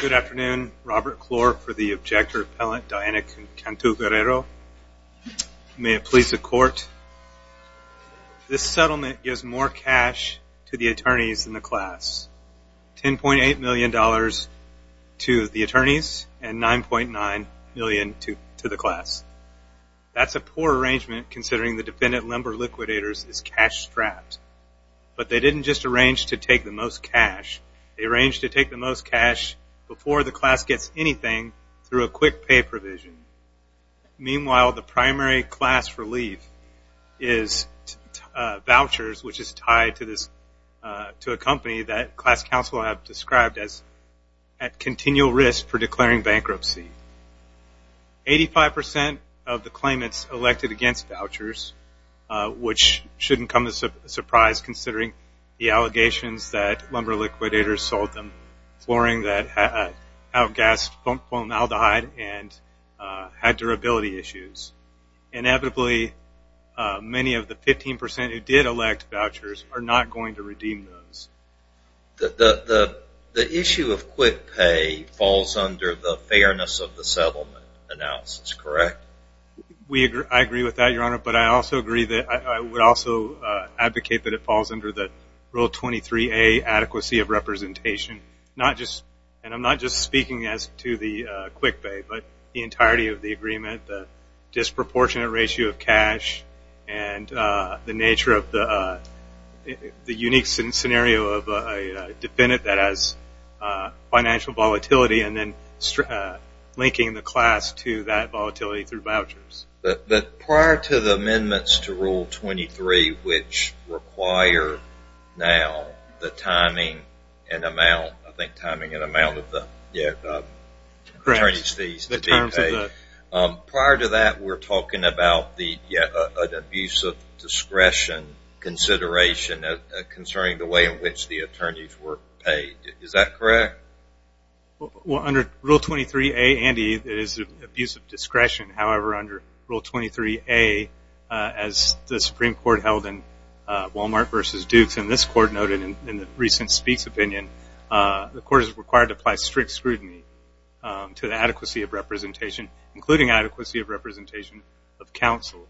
Good afternoon. Robert Klor for the Objector Appellant Diana Cantu-Guerrero. May it please the Court. This settlement gives more cash to the attorneys than the class. $10.8 million to the attorneys and $9.9 million to the class. That's a poor arrangement considering the defendant, Lumber Liquidators, is cash strapped. But they didn't just arrange to take the most cash. They arranged to take the most cash before the class gets anything through a quick pay provision. Meanwhile, the primary class relief is vouchers, which is tied to a company that class counsel have described as at continual risk for declaring bankruptcy. 85% of the claimants elected against vouchers, which shouldn't come as a surprise considering the allegations that Lumber Liquidators sold them flooring that outgassed formaldehyde and had durability issues. Inevitably, many of the 15% who did elect vouchers are not going to redeem those. The issue of quick pay falls under the fairness of the settlement analysis, correct? I agree with that, Your Honor, but I also agree that I would also advocate that it falls under the Rule 23A adequacy of representation. And I'm not just speaking as to the quick pay, but the entirety of the agreement, the disproportionate ratio of cash and the nature of the unique scenario of a defendant that has financial volatility and then linking the class to that volatility through vouchers. But prior to the amendments to Rule 23, which require now the timing and amount, I think timing and amount of the attorneys fees to be paid, prior to that, we're talking about the abuse of discretion consideration concerning the way in which the discretion, however, under Rule 23A, as the Supreme Court held in Walmart versus Dukes, and this Court noted in the recent speech opinion, the Court is required to apply strict scrutiny to the adequacy of representation, including adequacy of representation of counsel.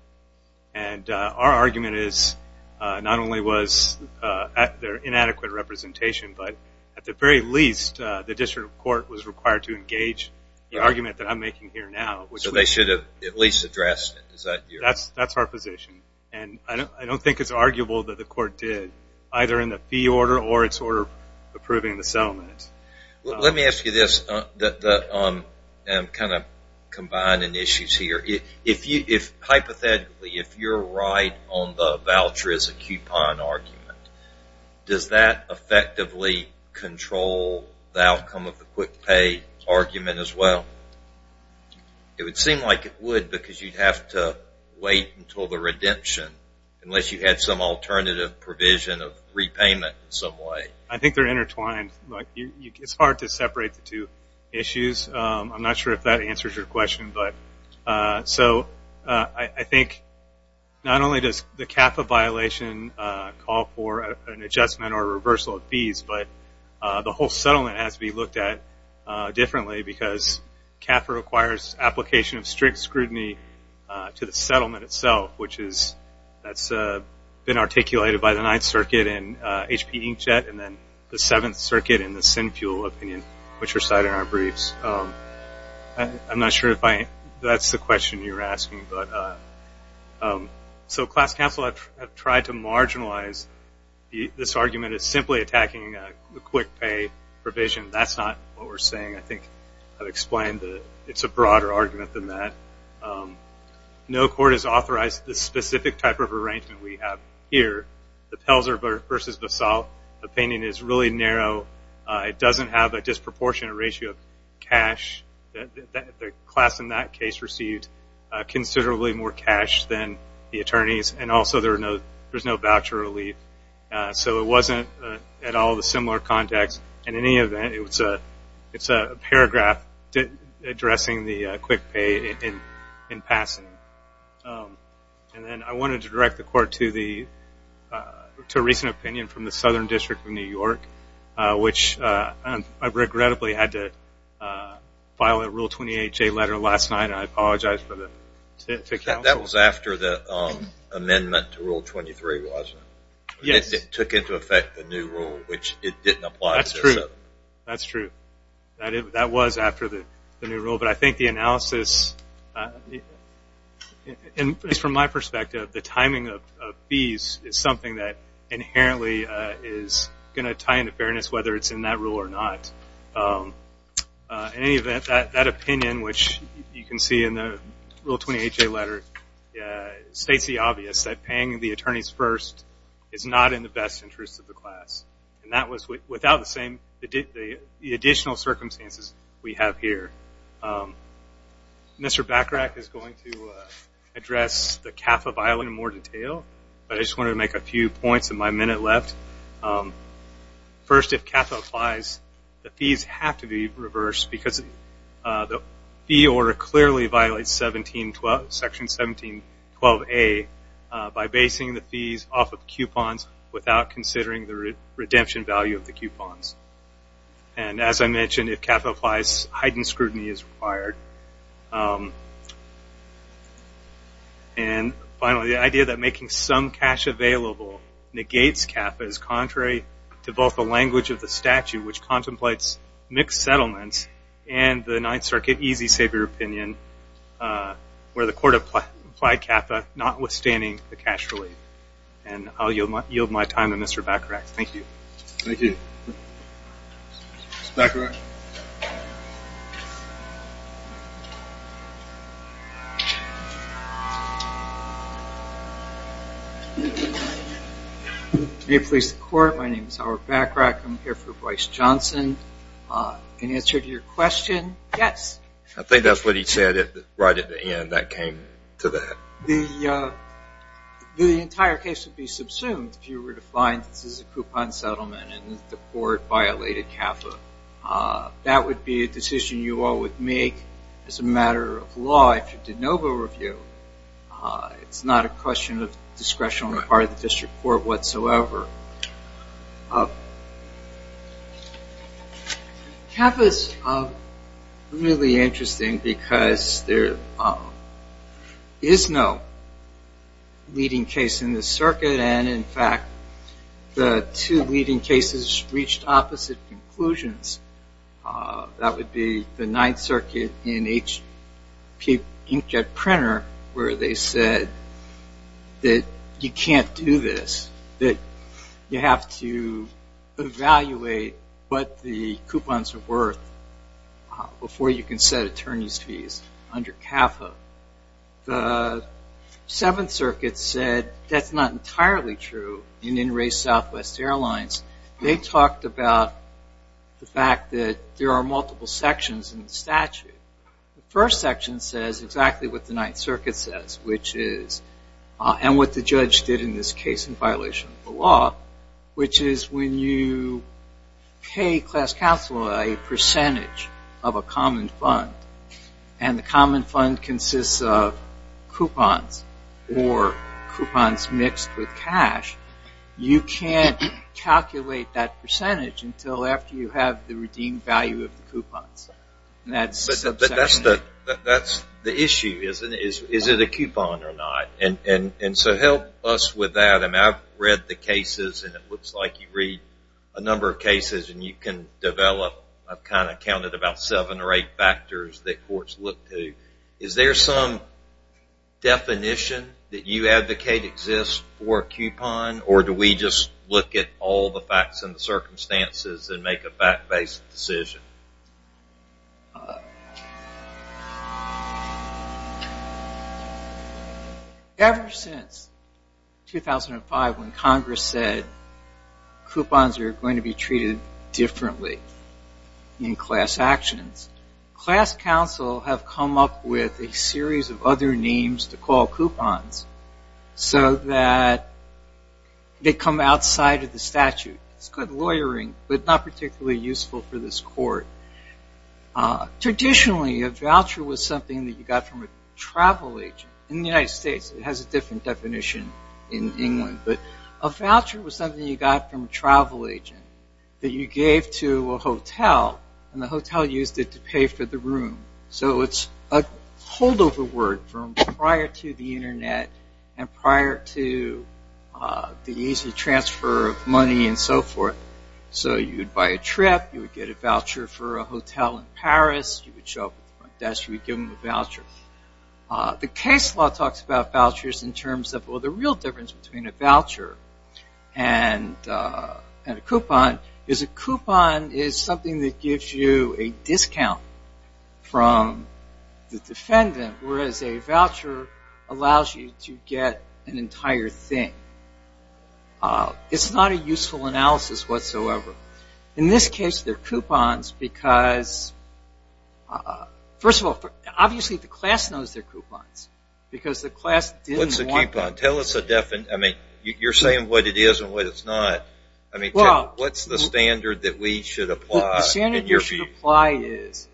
And our argument is not only was there inadequate representation, but at the very least, the District Court was required to engage the argument that I'm making here now. So they should have at least addressed it. That's our position. And I don't think it's arguable that the Court did, either in the fee order or its order approving the settlement. Let me ask you this, kind of combining issues here. Hypothetically, if you're right on the outcome of the quick pay argument as well, it would seem like it would because you'd have to wait until the redemption unless you had some alternative provision of repayment in some way. I think they're intertwined. It's hard to separate the two issues. I'm not sure if that answers your question. But so I think not only does the CAFA violation call for an adjustment or reversal of the fee order, but it has to be looked at differently because CAFA requires application of strict scrutiny to the settlement itself, which has been articulated by the Ninth Circuit in H.P. Inkjet and then the Seventh Circuit in the Sinfuel opinion, which are cited in our briefs. I'm not sure if that's the question you're asking. So class counsel have tried to That's not what we're saying. I think I've explained that it's a broader argument than that. No court has authorized this specific type of arrangement we have here. The Pelzer versus Vassal opinion is really narrow. It doesn't have a disproportionate ratio of cash. The class in that case received considerably more cash than the attorneys. And also there's no voucher relief. So it wasn't at all the similar context. In any event, it's a paragraph addressing the quick pay in passing. And then I wanted to direct the court to a recent opinion from the Southern District of New York, which I regrettably had to file a Rule 28J letter last night. I apologize. That was after the amendment to Rule 23, wasn't it? Yes. It took into effect the new rule, which it didn't apply. That's true. That's true. That was after the new rule. But I think the analysis, from my perspective, the timing of fees is something that inherently is going to tie into fairness, whether it's in that rule or not. In any event, that opinion, which you can see in the Rule 28J letter, states the obvious, that paying the attorneys first is not in the best interest of the class. And that was without the additional circumstances we have here. Mr. Bacharach is going to address the CAFA violation in more detail, but I just wanted to make a few points in my minute left. First, if CAFA applies, the fees have to be reversed, because the fee order clearly violates Section 1712A by basing the fees off of coupons without considering the redemption value of the coupons. And as I mentioned, if CAFA applies, heightened scrutiny is required. And finally, the idea that making some cash available negates CAFA is contrary to both the language of the statute, which contemplates mixed settlements, and the Ninth Circuit easy savior opinion, where the court applied CAFA notwithstanding the cash relief. And I'll yield my time to Mr. Bacharach. Thank you. Thank you. Mr. Bacharach? May it please the Court, my name is Howard Bacharach. I'm here for Bryce Johnson. In answer to your question, yes. I think that's what he said right at the end that came to that. The entire case would be subsumed if you were to find that this is a coupon settlement and the court violated CAFA. That would be a decision you all would make as a matter of law after de novo review. It's not a question of discretion on the part of the district court whatsoever. CAFA is really interesting because there is no leading case in the circuit, and in fact, the two leading cases reached opposite conclusions. That would be the Ninth Circuit and HP Inkjet Printer, where they said that you can't do this, that you have to evaluate what the coupons are worth before you can set attorney's fees under CAFA. The Seventh Circuit said that's not entirely true in In Re Southwest Airlines. They talked about the fact that there are multiple sections in the statute. The first section says exactly what the Ninth Circuit says and what the judge did in this case in violation of the law, which is when you pay class counsel a percentage of a common fund, and the common fund consists of coupons or coupons mixed with cash, you can't calculate that percentage until after you have the redeemed value of the coupons. That's the issue, isn't it? Is it a coupon or not? Help us with that. I've read the cases, and it looks like you read a number of cases, and you can develop, I've counted about seven or eight factors that courts look to. Is there some definition that you advocate exists for a coupon, or do we just look at all the facts and the circumstances and make a fact-based decision? Ever since 2005 when Congress said coupons are going to be treated differently in class actions, class counsel have come up with a series of other names to call coupons so that they come outside of the statute. It's good lawyering, but not particularly useful for this court. Traditionally, a voucher was something that you got from a travel agent. In the United States, it has a different definition in England, but a voucher was something you got from a travel agent that you gave to a hotel, and the hotel used it to pay for the room. It's a holdover word from prior to the internet and prior to the easy transfer of money and so forth. You'd buy a trip, you would get a voucher for a hotel in Paris, you would show up at the front desk, you would give them a voucher. The case law talks about vouchers in terms of the real difference between a voucher and a coupon. A coupon is something that gives you a discount from the defendant, whereas a voucher allows you to get an entire thing. It's not a useful analysis whatsoever. In this case, they're coupons because, first of all, obviously the class knows they're coupons because the class didn't want them. You're saying what it is and what it's not. What's the standard that we should apply? The standard you should apply is,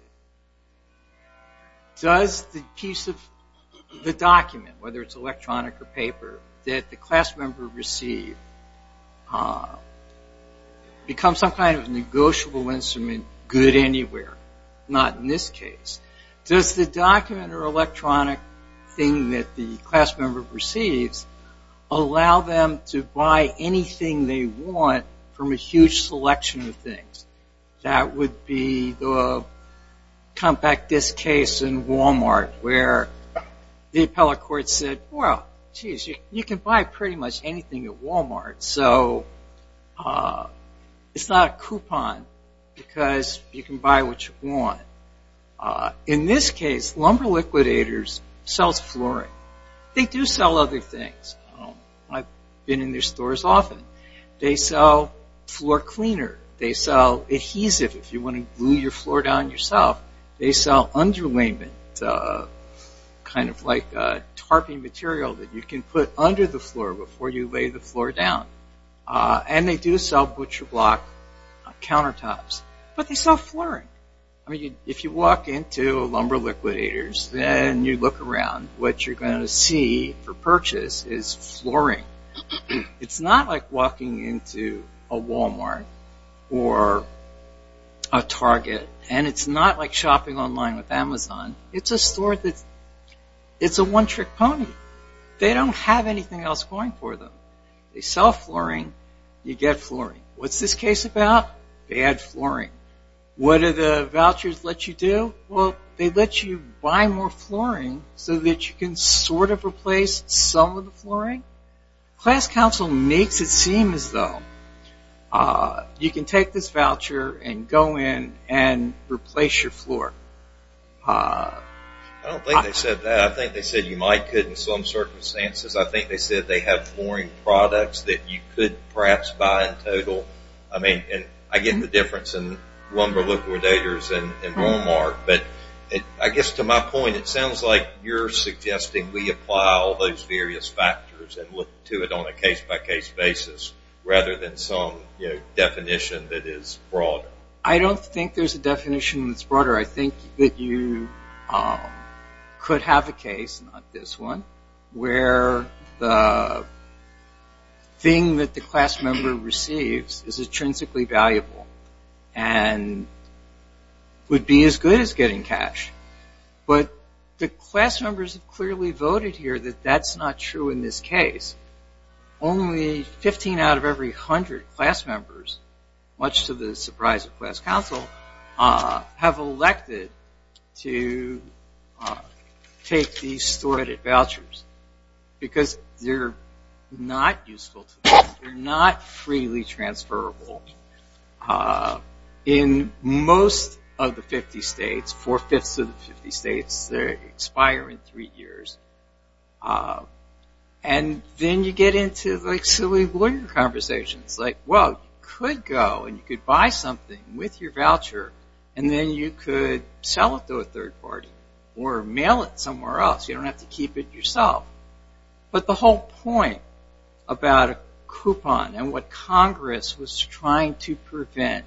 does the piece of the document, whether it's electronic or paper, that the class member received become some kind of negotiable instrument good anywhere? Not in this case. Does the document or electronic thing that the class member receives allow them to buy anything they want from a huge selection of things? That would be the compact disc case in Walmart where the appellate court said, well, jeez, you can buy pretty much anything at Walmart, so it's not a coupon because you can buy what you want. In this case, Lumber Liquidators sells flooring. They do sell other things. I've been in their stores often. They sell floor cleaner. They sell adhesive if you want to glue your floor down yourself. They sell underlayment, kind of like a tarping material that you can put under the floor before you lay the floor down. They do sell butcher block countertops, but they sell flooring. If you walk into Lumber Liquidators, then you look around. What you're going to see for purchase is flooring. It's not like walking into a Walmart or a Target. It's not like shopping online with Amazon. It's a one-trick pony. They don't have anything else going for them. They sell flooring. You get flooring. What's this case about? Bad flooring. What do the vouchers let you do? Well, they let you buy more flooring so that you can sort of replace some of the flooring. Class Council makes it seem as though you can take this voucher and go in and replace your floor. I don't think they said that. I think they said you might could in some circumstances. I think they said they have flooring products that you could perhaps buy in total. I mean, I get the difference in Lumber Liquidators and Walmart, but I guess to my point, it sounds like you're suggesting we apply all those various factors and look to it on a case-by-case basis rather than definition that is broader. I don't think there's a definition that's broader. I think that you could have a case, not this one, where the thing that the class member receives is intrinsically valuable and would be as good as getting cash. But the class members have clearly class members, much to the surprise of Class Council, have elected to take these stored vouchers because they're not useful to them. They're not freely transferable. In most of the 50 states, four-fifths of the 50 states, they expire in three years. And then you get into silly lawyer conversations, like, well, you could go and you could buy something with your voucher and then you could sell it to a third party or mail it somewhere else. You don't have to keep it yourself. But the whole point about a coupon and what Congress was trying to prevent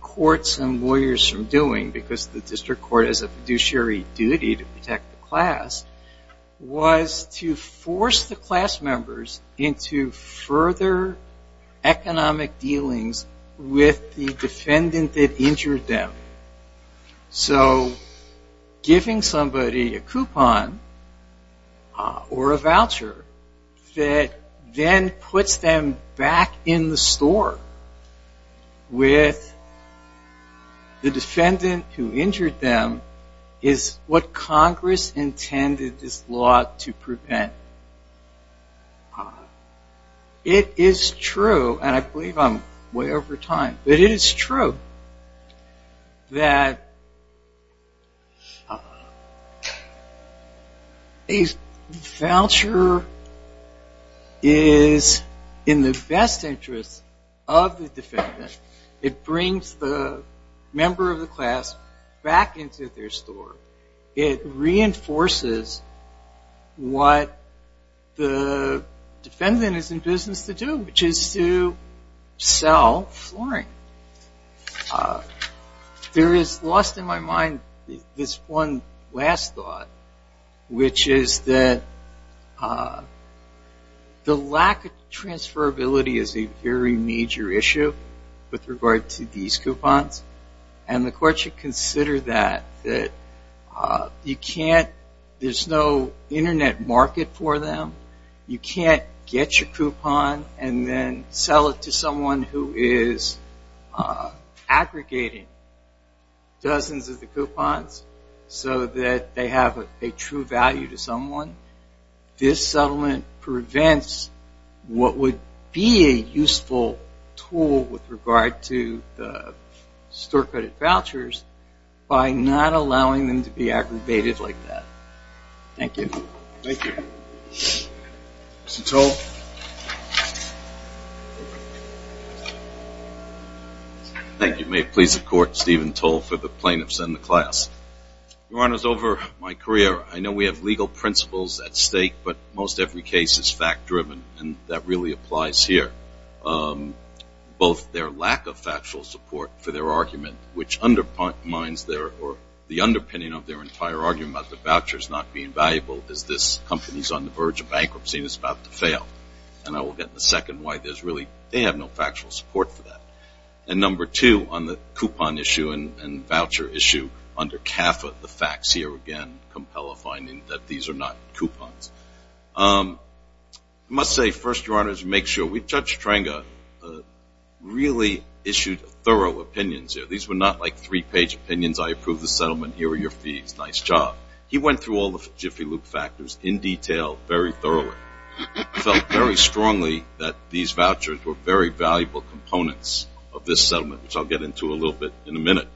courts and lawyers from doing because the district court has a fiduciary duty to protect the class, was to force the class members into further economic dealings with the defendant that injured them. So giving somebody a coupon or a voucher that then puts them back in the store with the defendant who injured them is what Congress intended this law to prevent. It is true, and I believe I'm way over time, but it is true that a voucher is in the best interest of the defendant. It brings the member of the class back into their store. It reinforces what the defendant is in business to do, which is to sell flooring. There is lost in my mind this one last thought, which is that the lack of transferability is a very major issue with regard to these coupons. And the court should consider that. There's no aggregating dozens of the coupons so that they have a true value to someone. This settlement prevents what would be a useful tool with regard to the store credit vouchers by not allowing them be aggravated like that. Thank you. Thank you. Mr. Toll. Thank you. May it please the court, Stephen Toll for the plaintiffs and the class. Your Honor, over my career, I know we have legal principles at stake, but most every case is fact-driven, and that really applies here. Both their lack of factual support for their argument, which undermines their, or the underpinning of their entire argument about the vouchers not being valuable, is this company's on the verge of bankruptcy and is about to fail. And I will get in a second why there's really, they have no factual support for that. And number two, on the coupon issue and voucher issue, under CAFA, the facts here again compel a finding that these are not coupons. I must say, first, Your Honor, to make sure, Judge Trenga really issued thorough opinions here. These were not like three-page opinions. I approve the settlement. Here are your fees. Nice job. He went through all the jiffy loop factors in detail very thoroughly. He felt very strongly that these vouchers were very valuable components of this settlement, which I'll get into a little bit in a minute.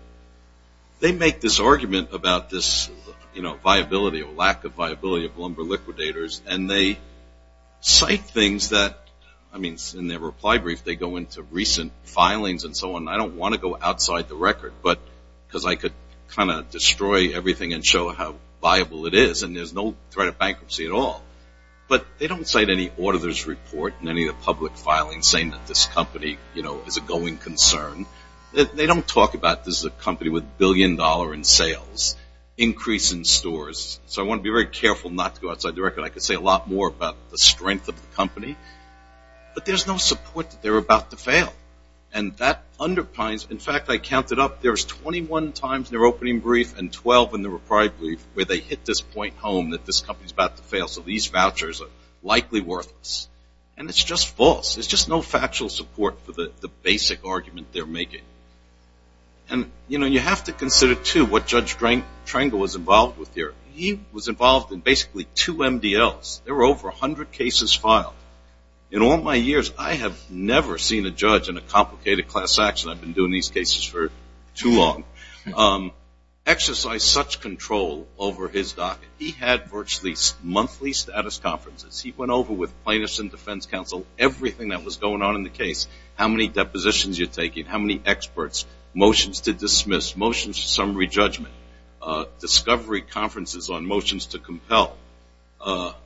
They make this argument about this, you know, viability or lack of viability of lumber liquidators, and they cite things that, I mean, in their reply brief, they go into recent filings and so on. I don't want to go outside the record, but, because I could kind of destroy everything and show how viable it is, and there's no threat of bankruptcy at all. But they don't cite any auditor's report in any of the public filings saying that this company, you know, is a going concern. They don't talk about this is a company with a billion dollar in sales, increase in stores. So I want to be very careful not to go outside the record. I could say a lot more about the strength of the company. But there's no support that they're about to fail. And that underpins, in fact, I counted up, there's 21 times in their opening brief and 12 in their reply brief where they hit this point home that this company's about to fail. So these vouchers are likely worthless. And it's just false. There's just no factual support for the basic argument they're making. And, you know, you have to consider, too, what Judge Trengle was involved with here. He was involved in basically two MDLs. There were over 100 cases filed. In all my years, I have never seen a judge in a complicated class action, I've been doing these cases for too long, exercise such control over his docket. He had virtually monthly status conferences. He went over with plaintiffs and defense counsel everything that was going on in the case, how many depositions you're taking, how many experts, motions to dismiss, motions to re-judgment, discovery conferences on motions to compel,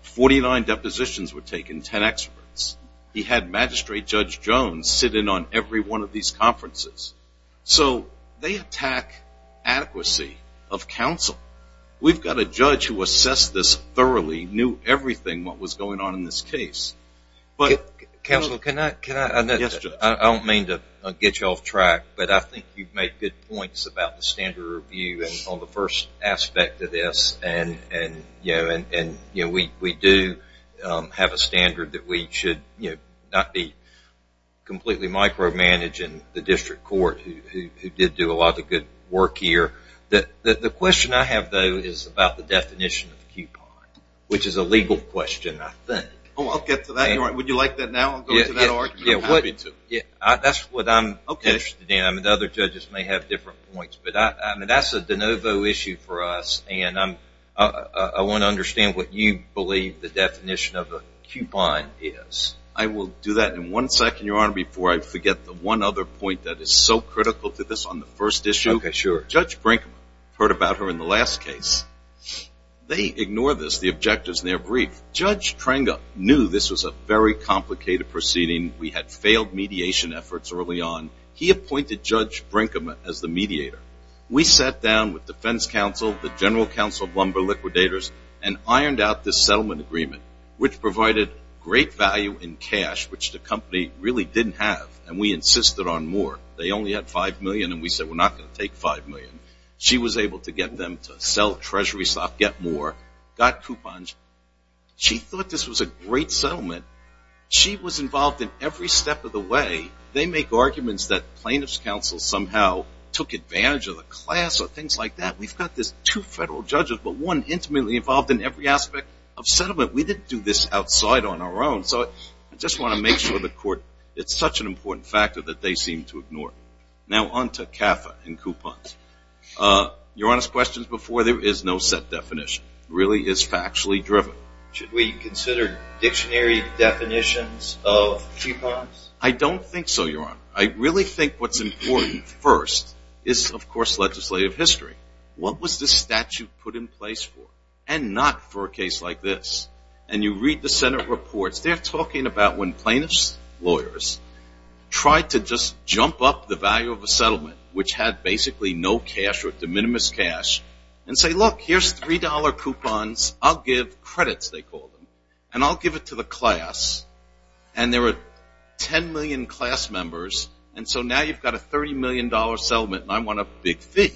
49 depositions were taken, 10 experts. He had Magistrate Judge Jones sit in on every one of these conferences. So they attack adequacy of counsel. We've got a judge who assessed this thoroughly, knew everything what was going on in this case. Counsel, can I? Yes, Judge. I don't mean to get you off track, but I think you've made good points about the standard review on the first aspect of this, and we do have a standard that we should not be completely micromanaging the district court, who did do a lot of good work here. The question I have, though, is about the definition of the coupon, which is a legal question, I think. Oh, I'll get to that. Would you like that now? I'll go to that argument. That's what I'm interested in, and other judges may have different points, but that's a de novo issue for us, and I want to understand what you believe the definition of a coupon is. I will do that in one second, Your Honor, before I forget the one other point that is so critical to this on the first issue. Okay, sure. Judge Brinkman. Heard about her in the last case. They ignore this, the objectives in their brief. Judge Tranga knew this was a very complicated proceeding. We had failed mediation efforts early on. He appointed Judge Brinkman as the mediator. We sat down with defense counsel, the general counsel of Lumber Liquidators, and ironed out this settlement agreement, which provided great value in cash, which the company really didn't have, and we insisted on more. They only had $5 million, and we said, we're not going to take $5 million. She was able to get them to sell treasury stock, get more, got coupons. She thought this was a great settlement. She was involved in every step of the way. They make arguments that plaintiff's counsel somehow took advantage of the class or things like that. We've got this two federal judges, but one intimately involved in every aspect of settlement. We didn't do this outside on our own, so I just want to make sure the court, it's such an important factor that they seem to ignore. Now, on to CAFA and coupons. Your Honor's questions before, there is no set definition. Really, it's factually driven. Should we consider dictionary definitions of coupons? I don't think so, Your Honor. I really think what's important first is, of course, legislative history. What was this statute put in place for? And not for a case like this. And you read the Senate reports. They're talking about when plaintiff's lawyers tried to just jump up the value of a settlement, which had basically no cash or de minimis cash, and say, look, here's $3 coupons. I'll give credits, they call them, and I'll give it to the class. And there were 10 million class members, and so now you've got a $30 million settlement, and I want a big fee.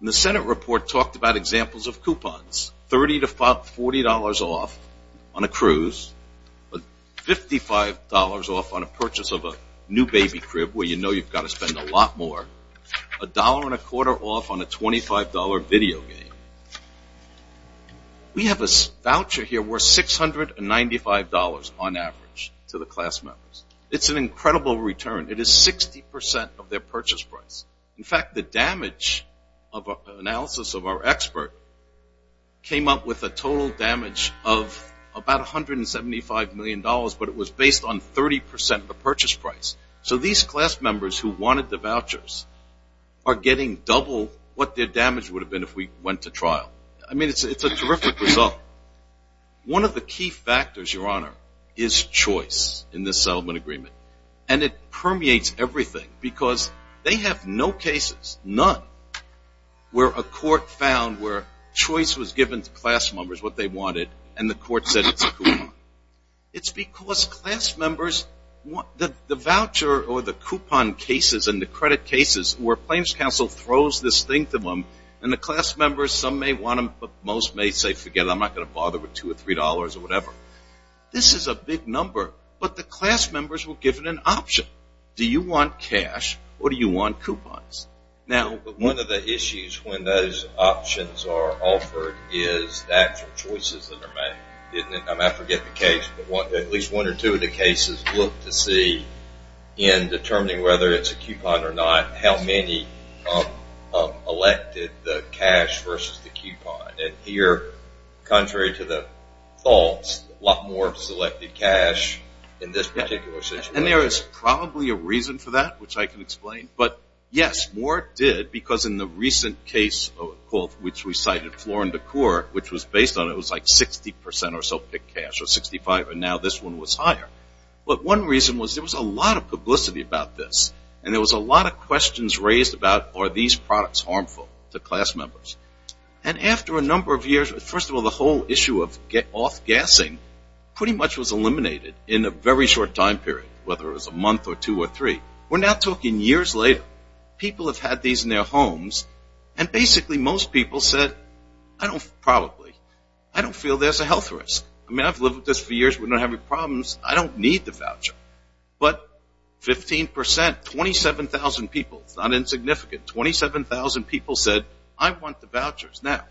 The Senate report talked about examples of coupons, $30 to $40 off on a cruise, $55 off on a purchase of a new baby crib, where you know you've got to spend a lot more, $1.25 off on a $25 video game. We have a voucher here worth $695 on average to the class members. It's an incredible return. It is 60% of their purchase price. In fact, the damage of analysis of our expert came up with a total damage of about $175 million, but it was based on 30% of our getting double what their damage would have been if we went to trial. I mean, it's a terrific result. One of the key factors, Your Honor, is choice in this settlement agreement, and it permeates everything because they have no cases, none, where a court found where choice was given to class members, what they wanted, and the court said it's a coupon. It's because class members, the voucher or the coupon cases and the credit cases where claims counsel throws this thing to them and the class members, some may want them, but most may say, forget it, I'm not going to bother with $2 or $3 or whatever. This is a big number, but the class members were given an option. Do you want cash or do you want coupons? One of the issues when those options are offered is actual choices that are made. I forget the case, but at least one or two of the cases looked to see in determining whether it's a coupon or not, how many elected the cash versus the coupon, and here, contrary to the thoughts, a lot more selected cash in this particular situation. And there is probably a reason for that, which I can explain, but yes, more did because in the which was based on it was like 60% or so picked cash or 65, and now this one was higher. But one reason was there was a lot of publicity about this, and there was a lot of questions raised about are these products harmful to class members? And after a number of years, first of all, the whole issue of off-gassing pretty much was eliminated in a very short time period, whether it was a month or two or three. We're now talking years later. People have had these in their homes and basically most people said, I don't probably, I don't feel there's a health risk. I mean, I've lived with this for years. We're not having problems. I don't need the voucher, but 15%, 27,000 people, it's not insignificant, 27,000 people said, I want the vouchers. Now,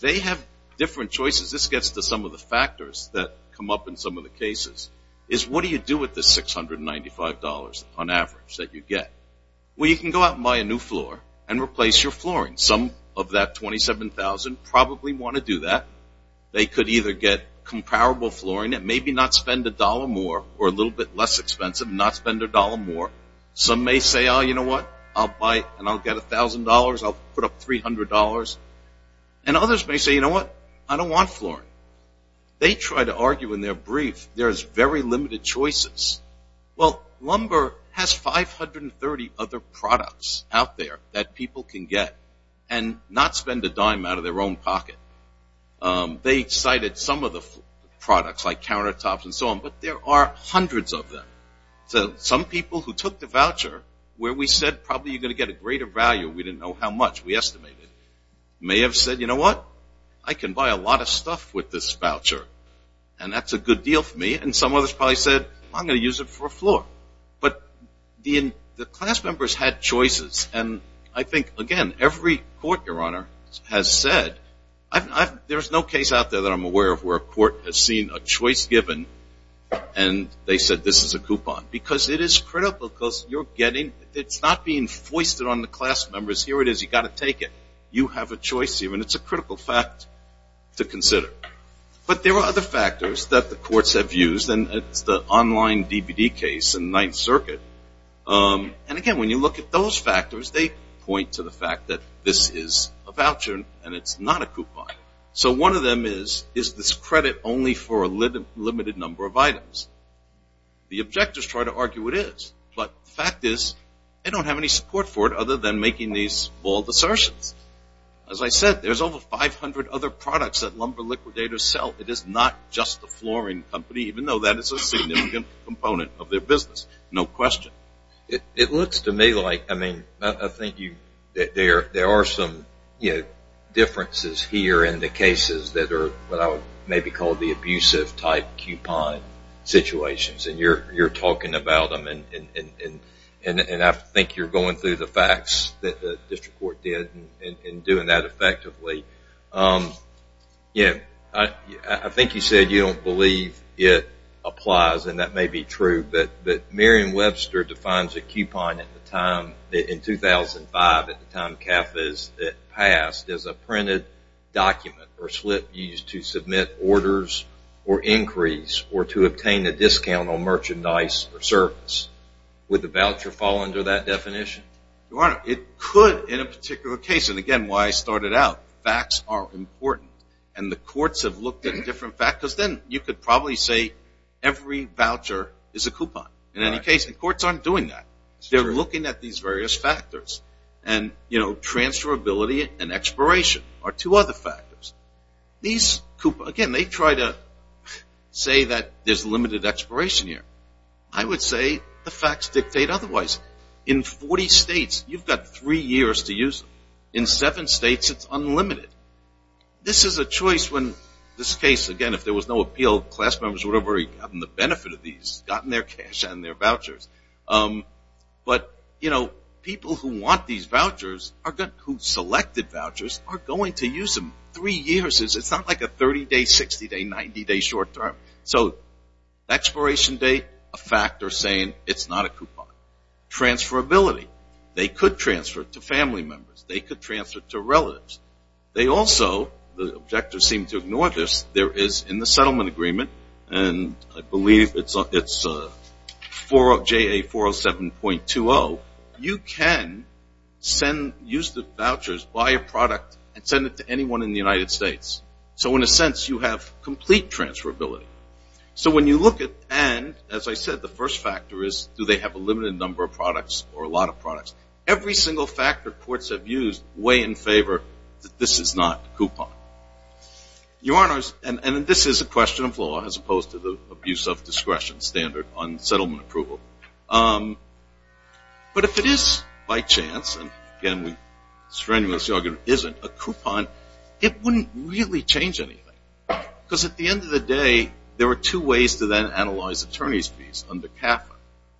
they have different choices. This gets to some of the factors that come up in some of the cases is what do you do with the $695 on average that you get? Well, you can go out and buy a new floor and replace your flooring. Some of that 27,000 probably want to do that. They could either get comparable flooring and maybe not spend a dollar more or a little bit less expensive, not spend a dollar more. Some may say, oh, you know what? I'll buy and I'll get $1,000. I'll put up $300. And others may say, you know what? I don't want flooring. They try to argue in their brief, there's very limited choices. Well, Lumber has 530 other products out there that people can get and not spend a dime out of their own pocket. They cited some of the products like countertops and so on, but there are hundreds of them. So some people who took the voucher where we said probably you're going to get a greater value, we didn't know how much we estimated, may have said, you know what? I can buy a lot of stuff with this voucher. And that's a good deal for me. And some others probably said, I'm going to use it for a floor. But the class members had choices. And I think, again, every court, Your Honor, has said, there's no case out there that I'm aware of where a court has seen a choice given and they said this is a coupon. Because it is critical because you're getting, it's not being foisted on the class members. Here it is. You've got to take it. You have a choice here and it's a critical fact to consider. But there are other factors that the courts have used and it's the online DVD case in Ninth Circuit. And again, when you look at those factors, they point to the fact that this is a voucher and it's not a coupon. So one of them is, is this credit only for a limited number of items? The objectors try to argue it is, but the fact is they don't have any support for it other than making these bold assertions. As I said, there's over 500 other products that lumber liquidators sell. It is not just the flooring company, even though that is a significant component of their business, no question. It looks to me like, I mean, I think there are some differences here in the cases that are what I would maybe call the going through the facts that the district court did in doing that effectively. I think you said you don't believe it applies and that may be true, but Merriam-Webster defines a coupon in 2005 at the time CAFAS passed as a printed document or slip used to submit orders or increase or to obtain a discount on merchandise or service. Would the voucher fall under that definition? Your Honor, it could in a particular case. And again, why I started out. Facts are important and the courts have looked at different factors. Then you could probably say every voucher is a coupon. In any case, the courts aren't doing that. They're looking at these various factors. And, you know, transferability and expiration are two other factors. Again, they try to say that there's limited expiration here. I would say the facts dictate otherwise. In 40 states, you've got three years to use them. In seven states, it's unlimited. This is a choice when this case, again, if there was no appeal, class members would have already gotten the benefit of these, gotten their cash and their vouchers. But, you know, people who want these vouchers, who selected vouchers, are going to use them three years. It's not like a 30-day, 60-day, 90-day short term. So expiration date, a factor saying it's not a coupon. Transferability. They could transfer to family members. They could transfer to relatives. They also, the objectors seem to ignore this, there is in the settlement agreement, and I believe it's JA 407.20, you can use the vouchers, buy a product and send it to anyone in the United States. So in a sense, you have complete transferability. So when you look at, and as I said, the first factor is do they have a limited number of products or a lot of products? Every single factor courts have used weigh in favor that this is not a coupon. Your Honors, and this is a question of law as opposed to the abuse of discretion standard on settlement approval. But if it is by chance, and again, a coupon, it wouldn't really change anything. Because at the end of the day, there are two ways to then analyze attorney's fees under CAFA.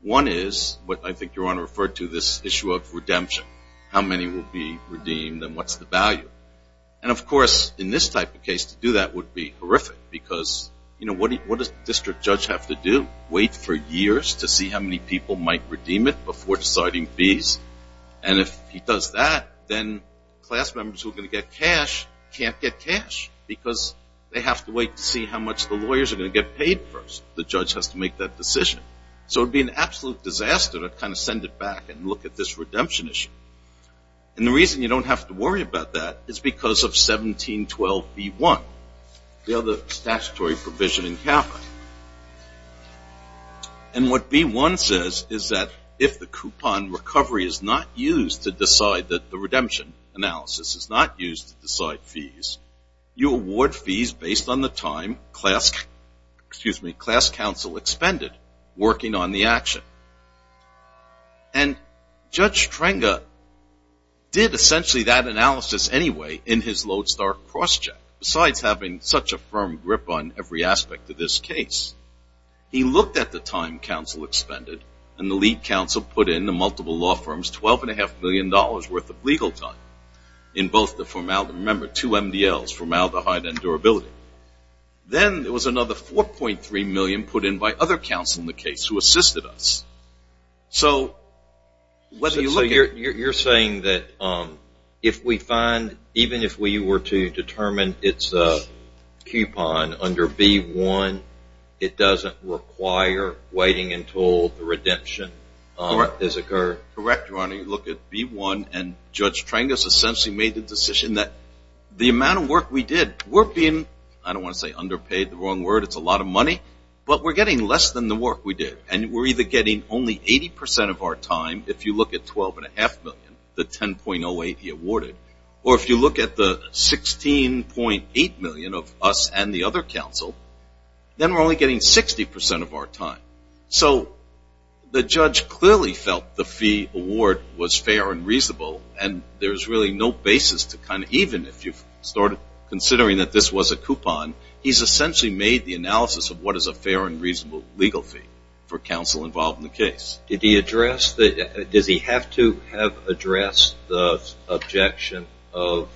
One is what I think Your Honor referred to this issue of redemption. How many will be redeemed and what's the value? And of course, in this type of case, to do that would be horrific because what does the district judge have to do? Wait for years to see how many people might redeem it before deciding fees. And if he does that, then class members who are going to get cash can't get cash because they have to wait to see how much the lawyers are going to get paid first. The judge has to make that decision. So it would be an absolute disaster to kind of send it back and look at this redemption issue. And the reason you don't have to worry about that is because of 1712B1, the other statutory provision in CAFA. And what B1 says is that if the coupon recovery is not used to decide that the redemption analysis is not used to decide fees, you award fees based on the time class counsel expended working on the action. And Judge Strenga did essentially that analysis anyway in his Lodestar cross-check. Besides having such a firm grip on every aspect of this case, he looked at the time counsel expended and the lead counsel put in the multiple law firms $12.5 million worth of legal time in both the formaldehyde. Remember, two MDLs, formaldehyde and durability. Then there was another $4.3 million put in by other counsel in the case who assisted us. So you're saying that if we find, even if we were to determine it's a coupon under B1, it doesn't require waiting until the redemption has occurred? Correct, Your Honor. You look at B1 and Judge Strenga essentially made the decision that the amount of work we did, we're being, I don't want to say underpaid, the wrong word. It's a lot of money. But we're getting less than the work we did. And we're either getting only 80% of our time if you look at $12.5 million, the $10.08 he awarded. Or if you look at the $16.8 million of us and the other counsel, then we're only getting 60% of our time. So the judge clearly felt the award was fair and reasonable. And there's really no basis to kind of, even if you've started considering that this was a coupon, he's essentially made the analysis of what is a fair and reasonable legal fee for counsel involved in the case. Did he address the, does he have to have addressed the objection of,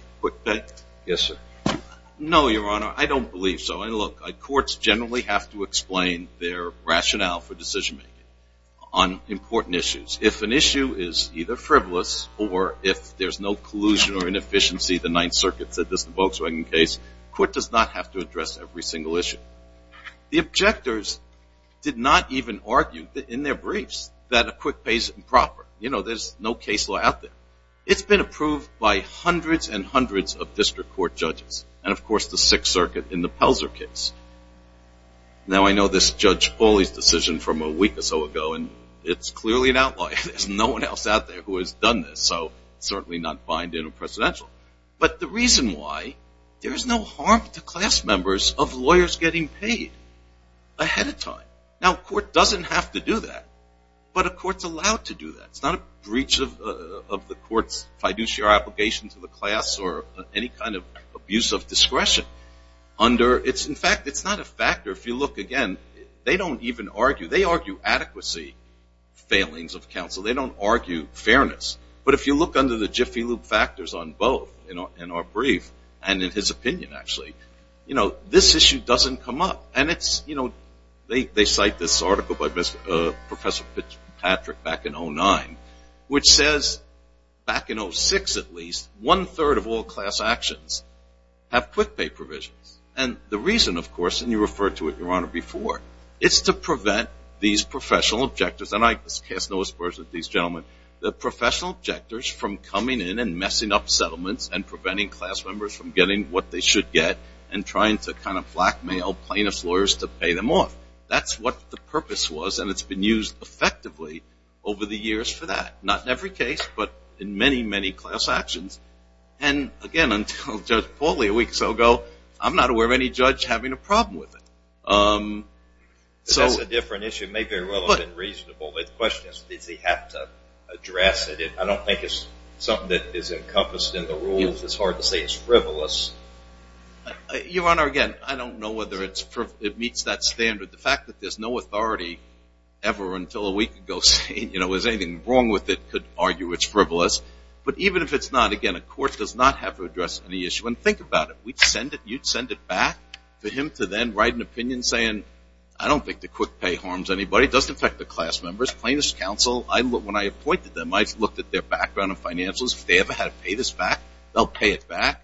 yes sir? No, Your Honor. I don't believe so. And look, courts generally have to explain their rationale for decision-making on important issues. If an issue is either frivolous or if there's no collusion or inefficiency, the Ninth Circuit said this in the Volkswagen case, court does not have to address every single issue. The objectors did not even argue in their briefs that a quick pay is improper. You know, there's no case law out there. It's been approved by hundreds and hundreds of district court judges. And of course, the Sixth Circuit in the Pelzer case. Now, I know this Judge Pauly's decision from a week or so ago, and it's clearly an outlaw. There's no one else out there who has done this, so certainly not bind in a presidential. But the reason why, there's no harm to class members of lawyers getting paid ahead of time. Now, a court doesn't have to do that, but a court's allowed to do that. It's not a breach of the court's fiduciary obligation to the class or any kind of abuse of discretion under, it's in fact, it's not a factor. If you look again, they don't even argue. They argue adequacy failings of counsel. They don't argue fairness. But if you look under the jiffy loop factors on both in our brief, and in his opinion, actually, you know, this issue doesn't come up. And it's, you know, they cite this article by Professor Patrick back in 09, which says, back in 06 at least, one third of all class actions have quick pay provisions. And the reason, of course, and you referred to it, Your Honor, before, it's to prevent these professional objectors, and I cast no aspersions with these gentlemen, the professional objectors from coming in and messing up settlements and preventing class members from getting what they should get and trying to kind of blackmail plaintiff's lawyers to pay them off. That's what the purpose was, and it's been used effectively over the years for that, not in every case, but in many, many class actions. And again, until Judge Pauli a week or so ago, I'm not aware of any judge having a problem with it. So that's a different issue. It may very well have been reasonable. But the question is, does he have to address it? I don't think it's something that is encompassed in the rules. It's hard to say it's frivolous. Your Honor, again, I don't know whether it meets that standard. The fact that there's no authority ever until a week ago saying, you know, is anything wrong with it, could argue it's frivolous. But even if it's not, again, the court does not have to address any issue. And think about it. You'd send it back to him to then write an opinion saying, I don't think the quick pay harms anybody. It doesn't affect the class members. Plaintiff's counsel, when I appointed them, I looked at their background of financials. If they ever had to pay this back, they'll pay it back.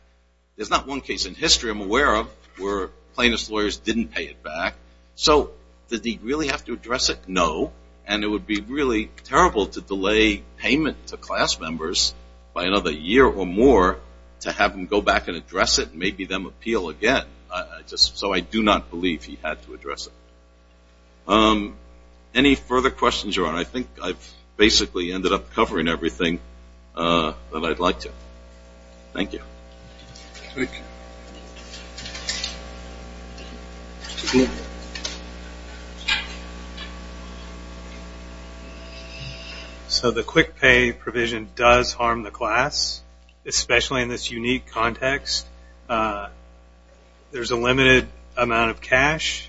There's not one case in history I'm aware of where plaintiff's lawyers didn't pay it back. So did he really have to address it? No. And it would be really terrible to delay payment to class members by another year or more to have them go back and address it and maybe them appeal again. So I do not believe he had to address it. Any further questions, Your Honor? I think I've basically ended up covering everything that I'd like to. Thank you. So the quick pay provision does harm the class, especially in this unique context. There's a limited amount of cash.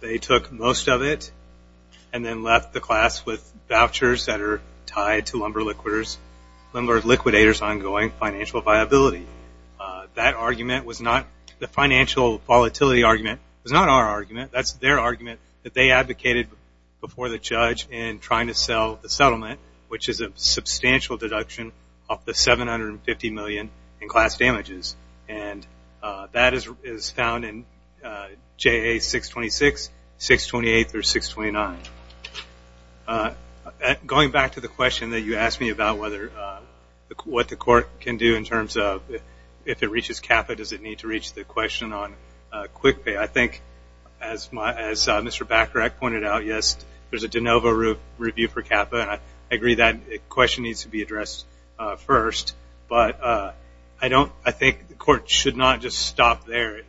They took most of it and then left the class with vouchers that are tied to Lumber Liquidator's ongoing financial viability. That argument was not the financial volatility argument. It was not our argument. That's their argument that they advocated before the judge in trying to sell the settlement, which is a substantial deduction of the $750 million in class You asked me about what the court can do in terms of if it reaches CAPA, does it need to reach the question on quick pay? I think as Mr. Bacharach pointed out, yes, there's a de novo review for CAPA. I agree that question needs to be addressed first. But I think the court should not just stop there.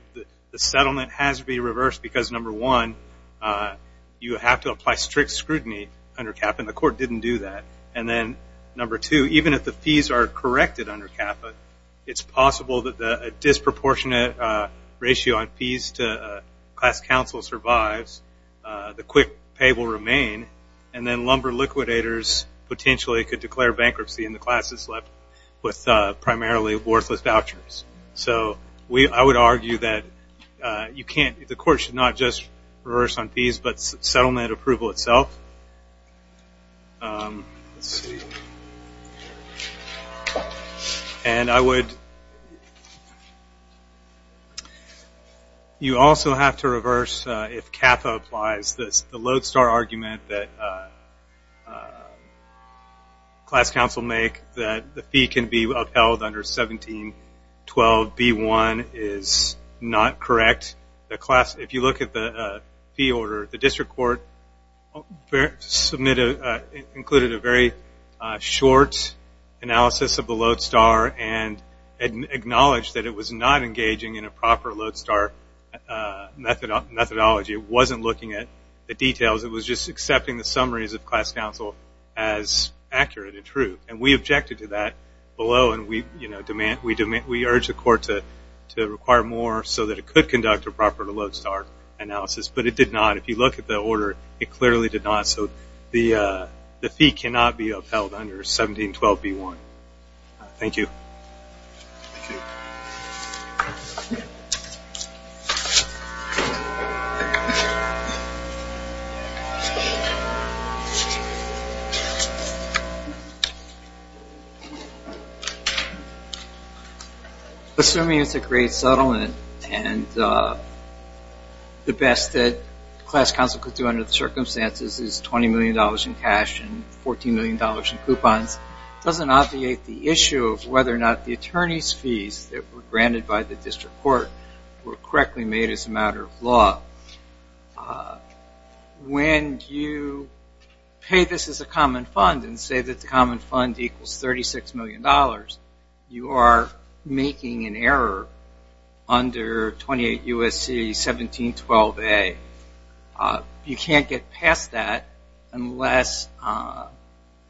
The settlement has to be reversed because, number one, you have to apply strict scrutiny under CAPA. And the court didn't do that. And then, number two, even if the fees are corrected under CAPA, it's possible that a disproportionate ratio on fees to class counsel survives. The quick pay will remain. And then Lumber Liquidators potentially could declare bankruptcy in the class that slept with primarily worthless vouchers. So I would argue that you can't, the court should not just defer to approval itself. And I would, you also have to reverse if CAPA applies. The lodestar argument that class counsel make that the fee can be upheld under 17-12-B-1 is not correct. If you look at the fee order, the district court submitted, included a very short analysis of the lodestar and acknowledged that it was not engaging in a proper lodestar methodology. It wasn't looking at the details. It was just accepting the summaries of class counsel as accurate and true. And we urge the court to require more so that it could conduct a proper lodestar analysis. But it did not. If you look at the order, it clearly did not. So the fee cannot be upheld under 17-12-B-1. Thank you. Assuming it's a great settlement and the best that class counsel could do under the circumstances is $20 million in cash and $14 million in coupons, doesn't obviate the issue of whether or not the attorney's fees that were granted by the district court were correctly made as a matter of law. When you pay this as a common fund and say that the common fund equals $36 million, you are making an error under 28 U.S.C. 17-12-A. You can't get past that unless,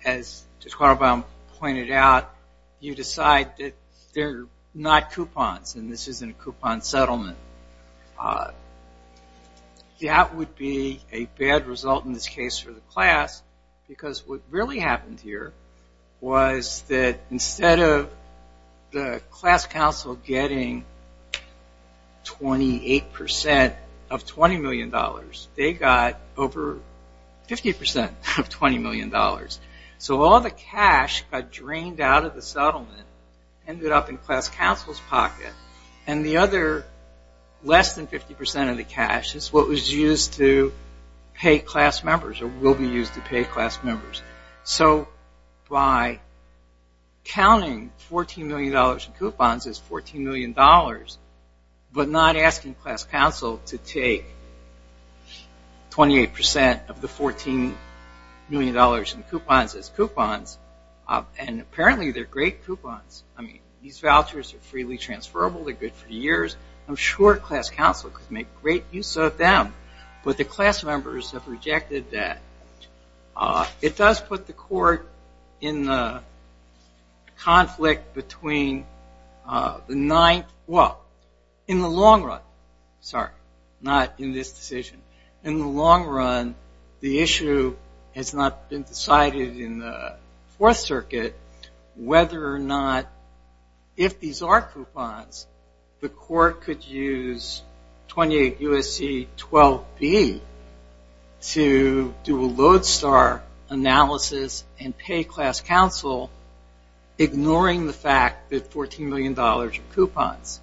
as Judge Quaterbaum pointed out, you decide that they're not coupons and this isn't a coupon settlement. That would be a bad result in this case for the class because what really happened here was that instead of the class counsel getting 28% of $20 million, they got over 50% of $20 million. So all the cash got drained out of the settlement, ended up in class counsel's pocket, and the other less than 50% of the cash is what was used to pay class members or will be by counting $14 million in coupons as $14 million but not asking class counsel to take 28% of the $14 million in coupons as coupons. And apparently they're great coupons. These vouchers are freely transferable. They're good for years. I'm sure class counsel could make great use of them, but the class members have rejected that. It does put the court in the conflict between the ninth, well, in the long run, sorry, not in this decision. In the long run, the issue has not been decided in the Fourth Circuit whether or not, if these are coupons, the court could use 28 U.S.C. 12B to do a Lodestar analysis and pay class counsel ignoring the fact that $14 million in coupons.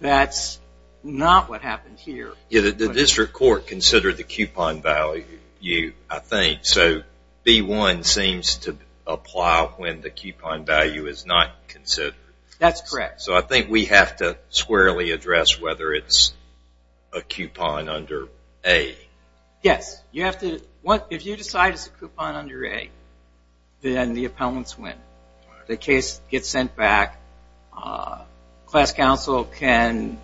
That's not what happened here. The district court considered the coupon value, I think. So B1 seems to apply when the coupon value is not considered. That's correct. So I think we have to squarely address whether it's a coupon under A. Yes. If you decide it's a coupon under A, then the appellants win. The case gets sent back. Class counsel can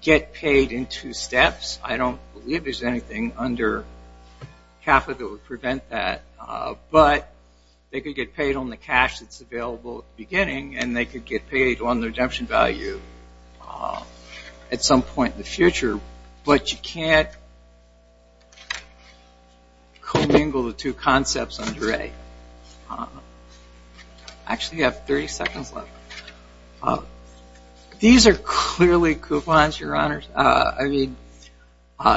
get paid in two steps. I don't believe there's under CAFA that would prevent that, but they could get paid on the cash that's available at the beginning and they could get paid on the redemption value at some point in the future, but you can't commingle the two concepts under A. I actually have 30 seconds left. These are clearly coupons, Your Honors.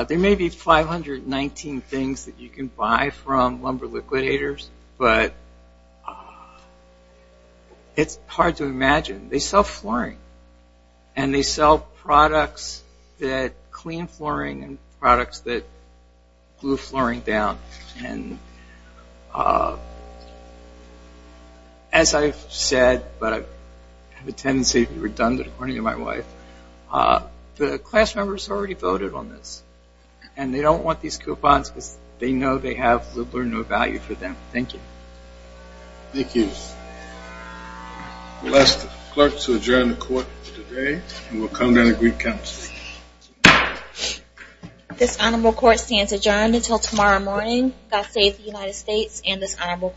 There may be 519 things that you can buy from lumber liquidators, but it's hard to imagine. They sell flooring and they sell products that clean flooring and products that glue flooring down. And as I've said, but I have a tendency to be redundant according to my wife, the class members already voted on this and they don't want these coupons because they know they have little or no value for them. Thank you. Thank you. We'll ask the clerk to adjourn the court for today and we'll come down to greet counsel. Thank you. This honorable court stands adjourned until tomorrow morning. God save the United States and this honorable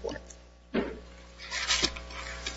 court.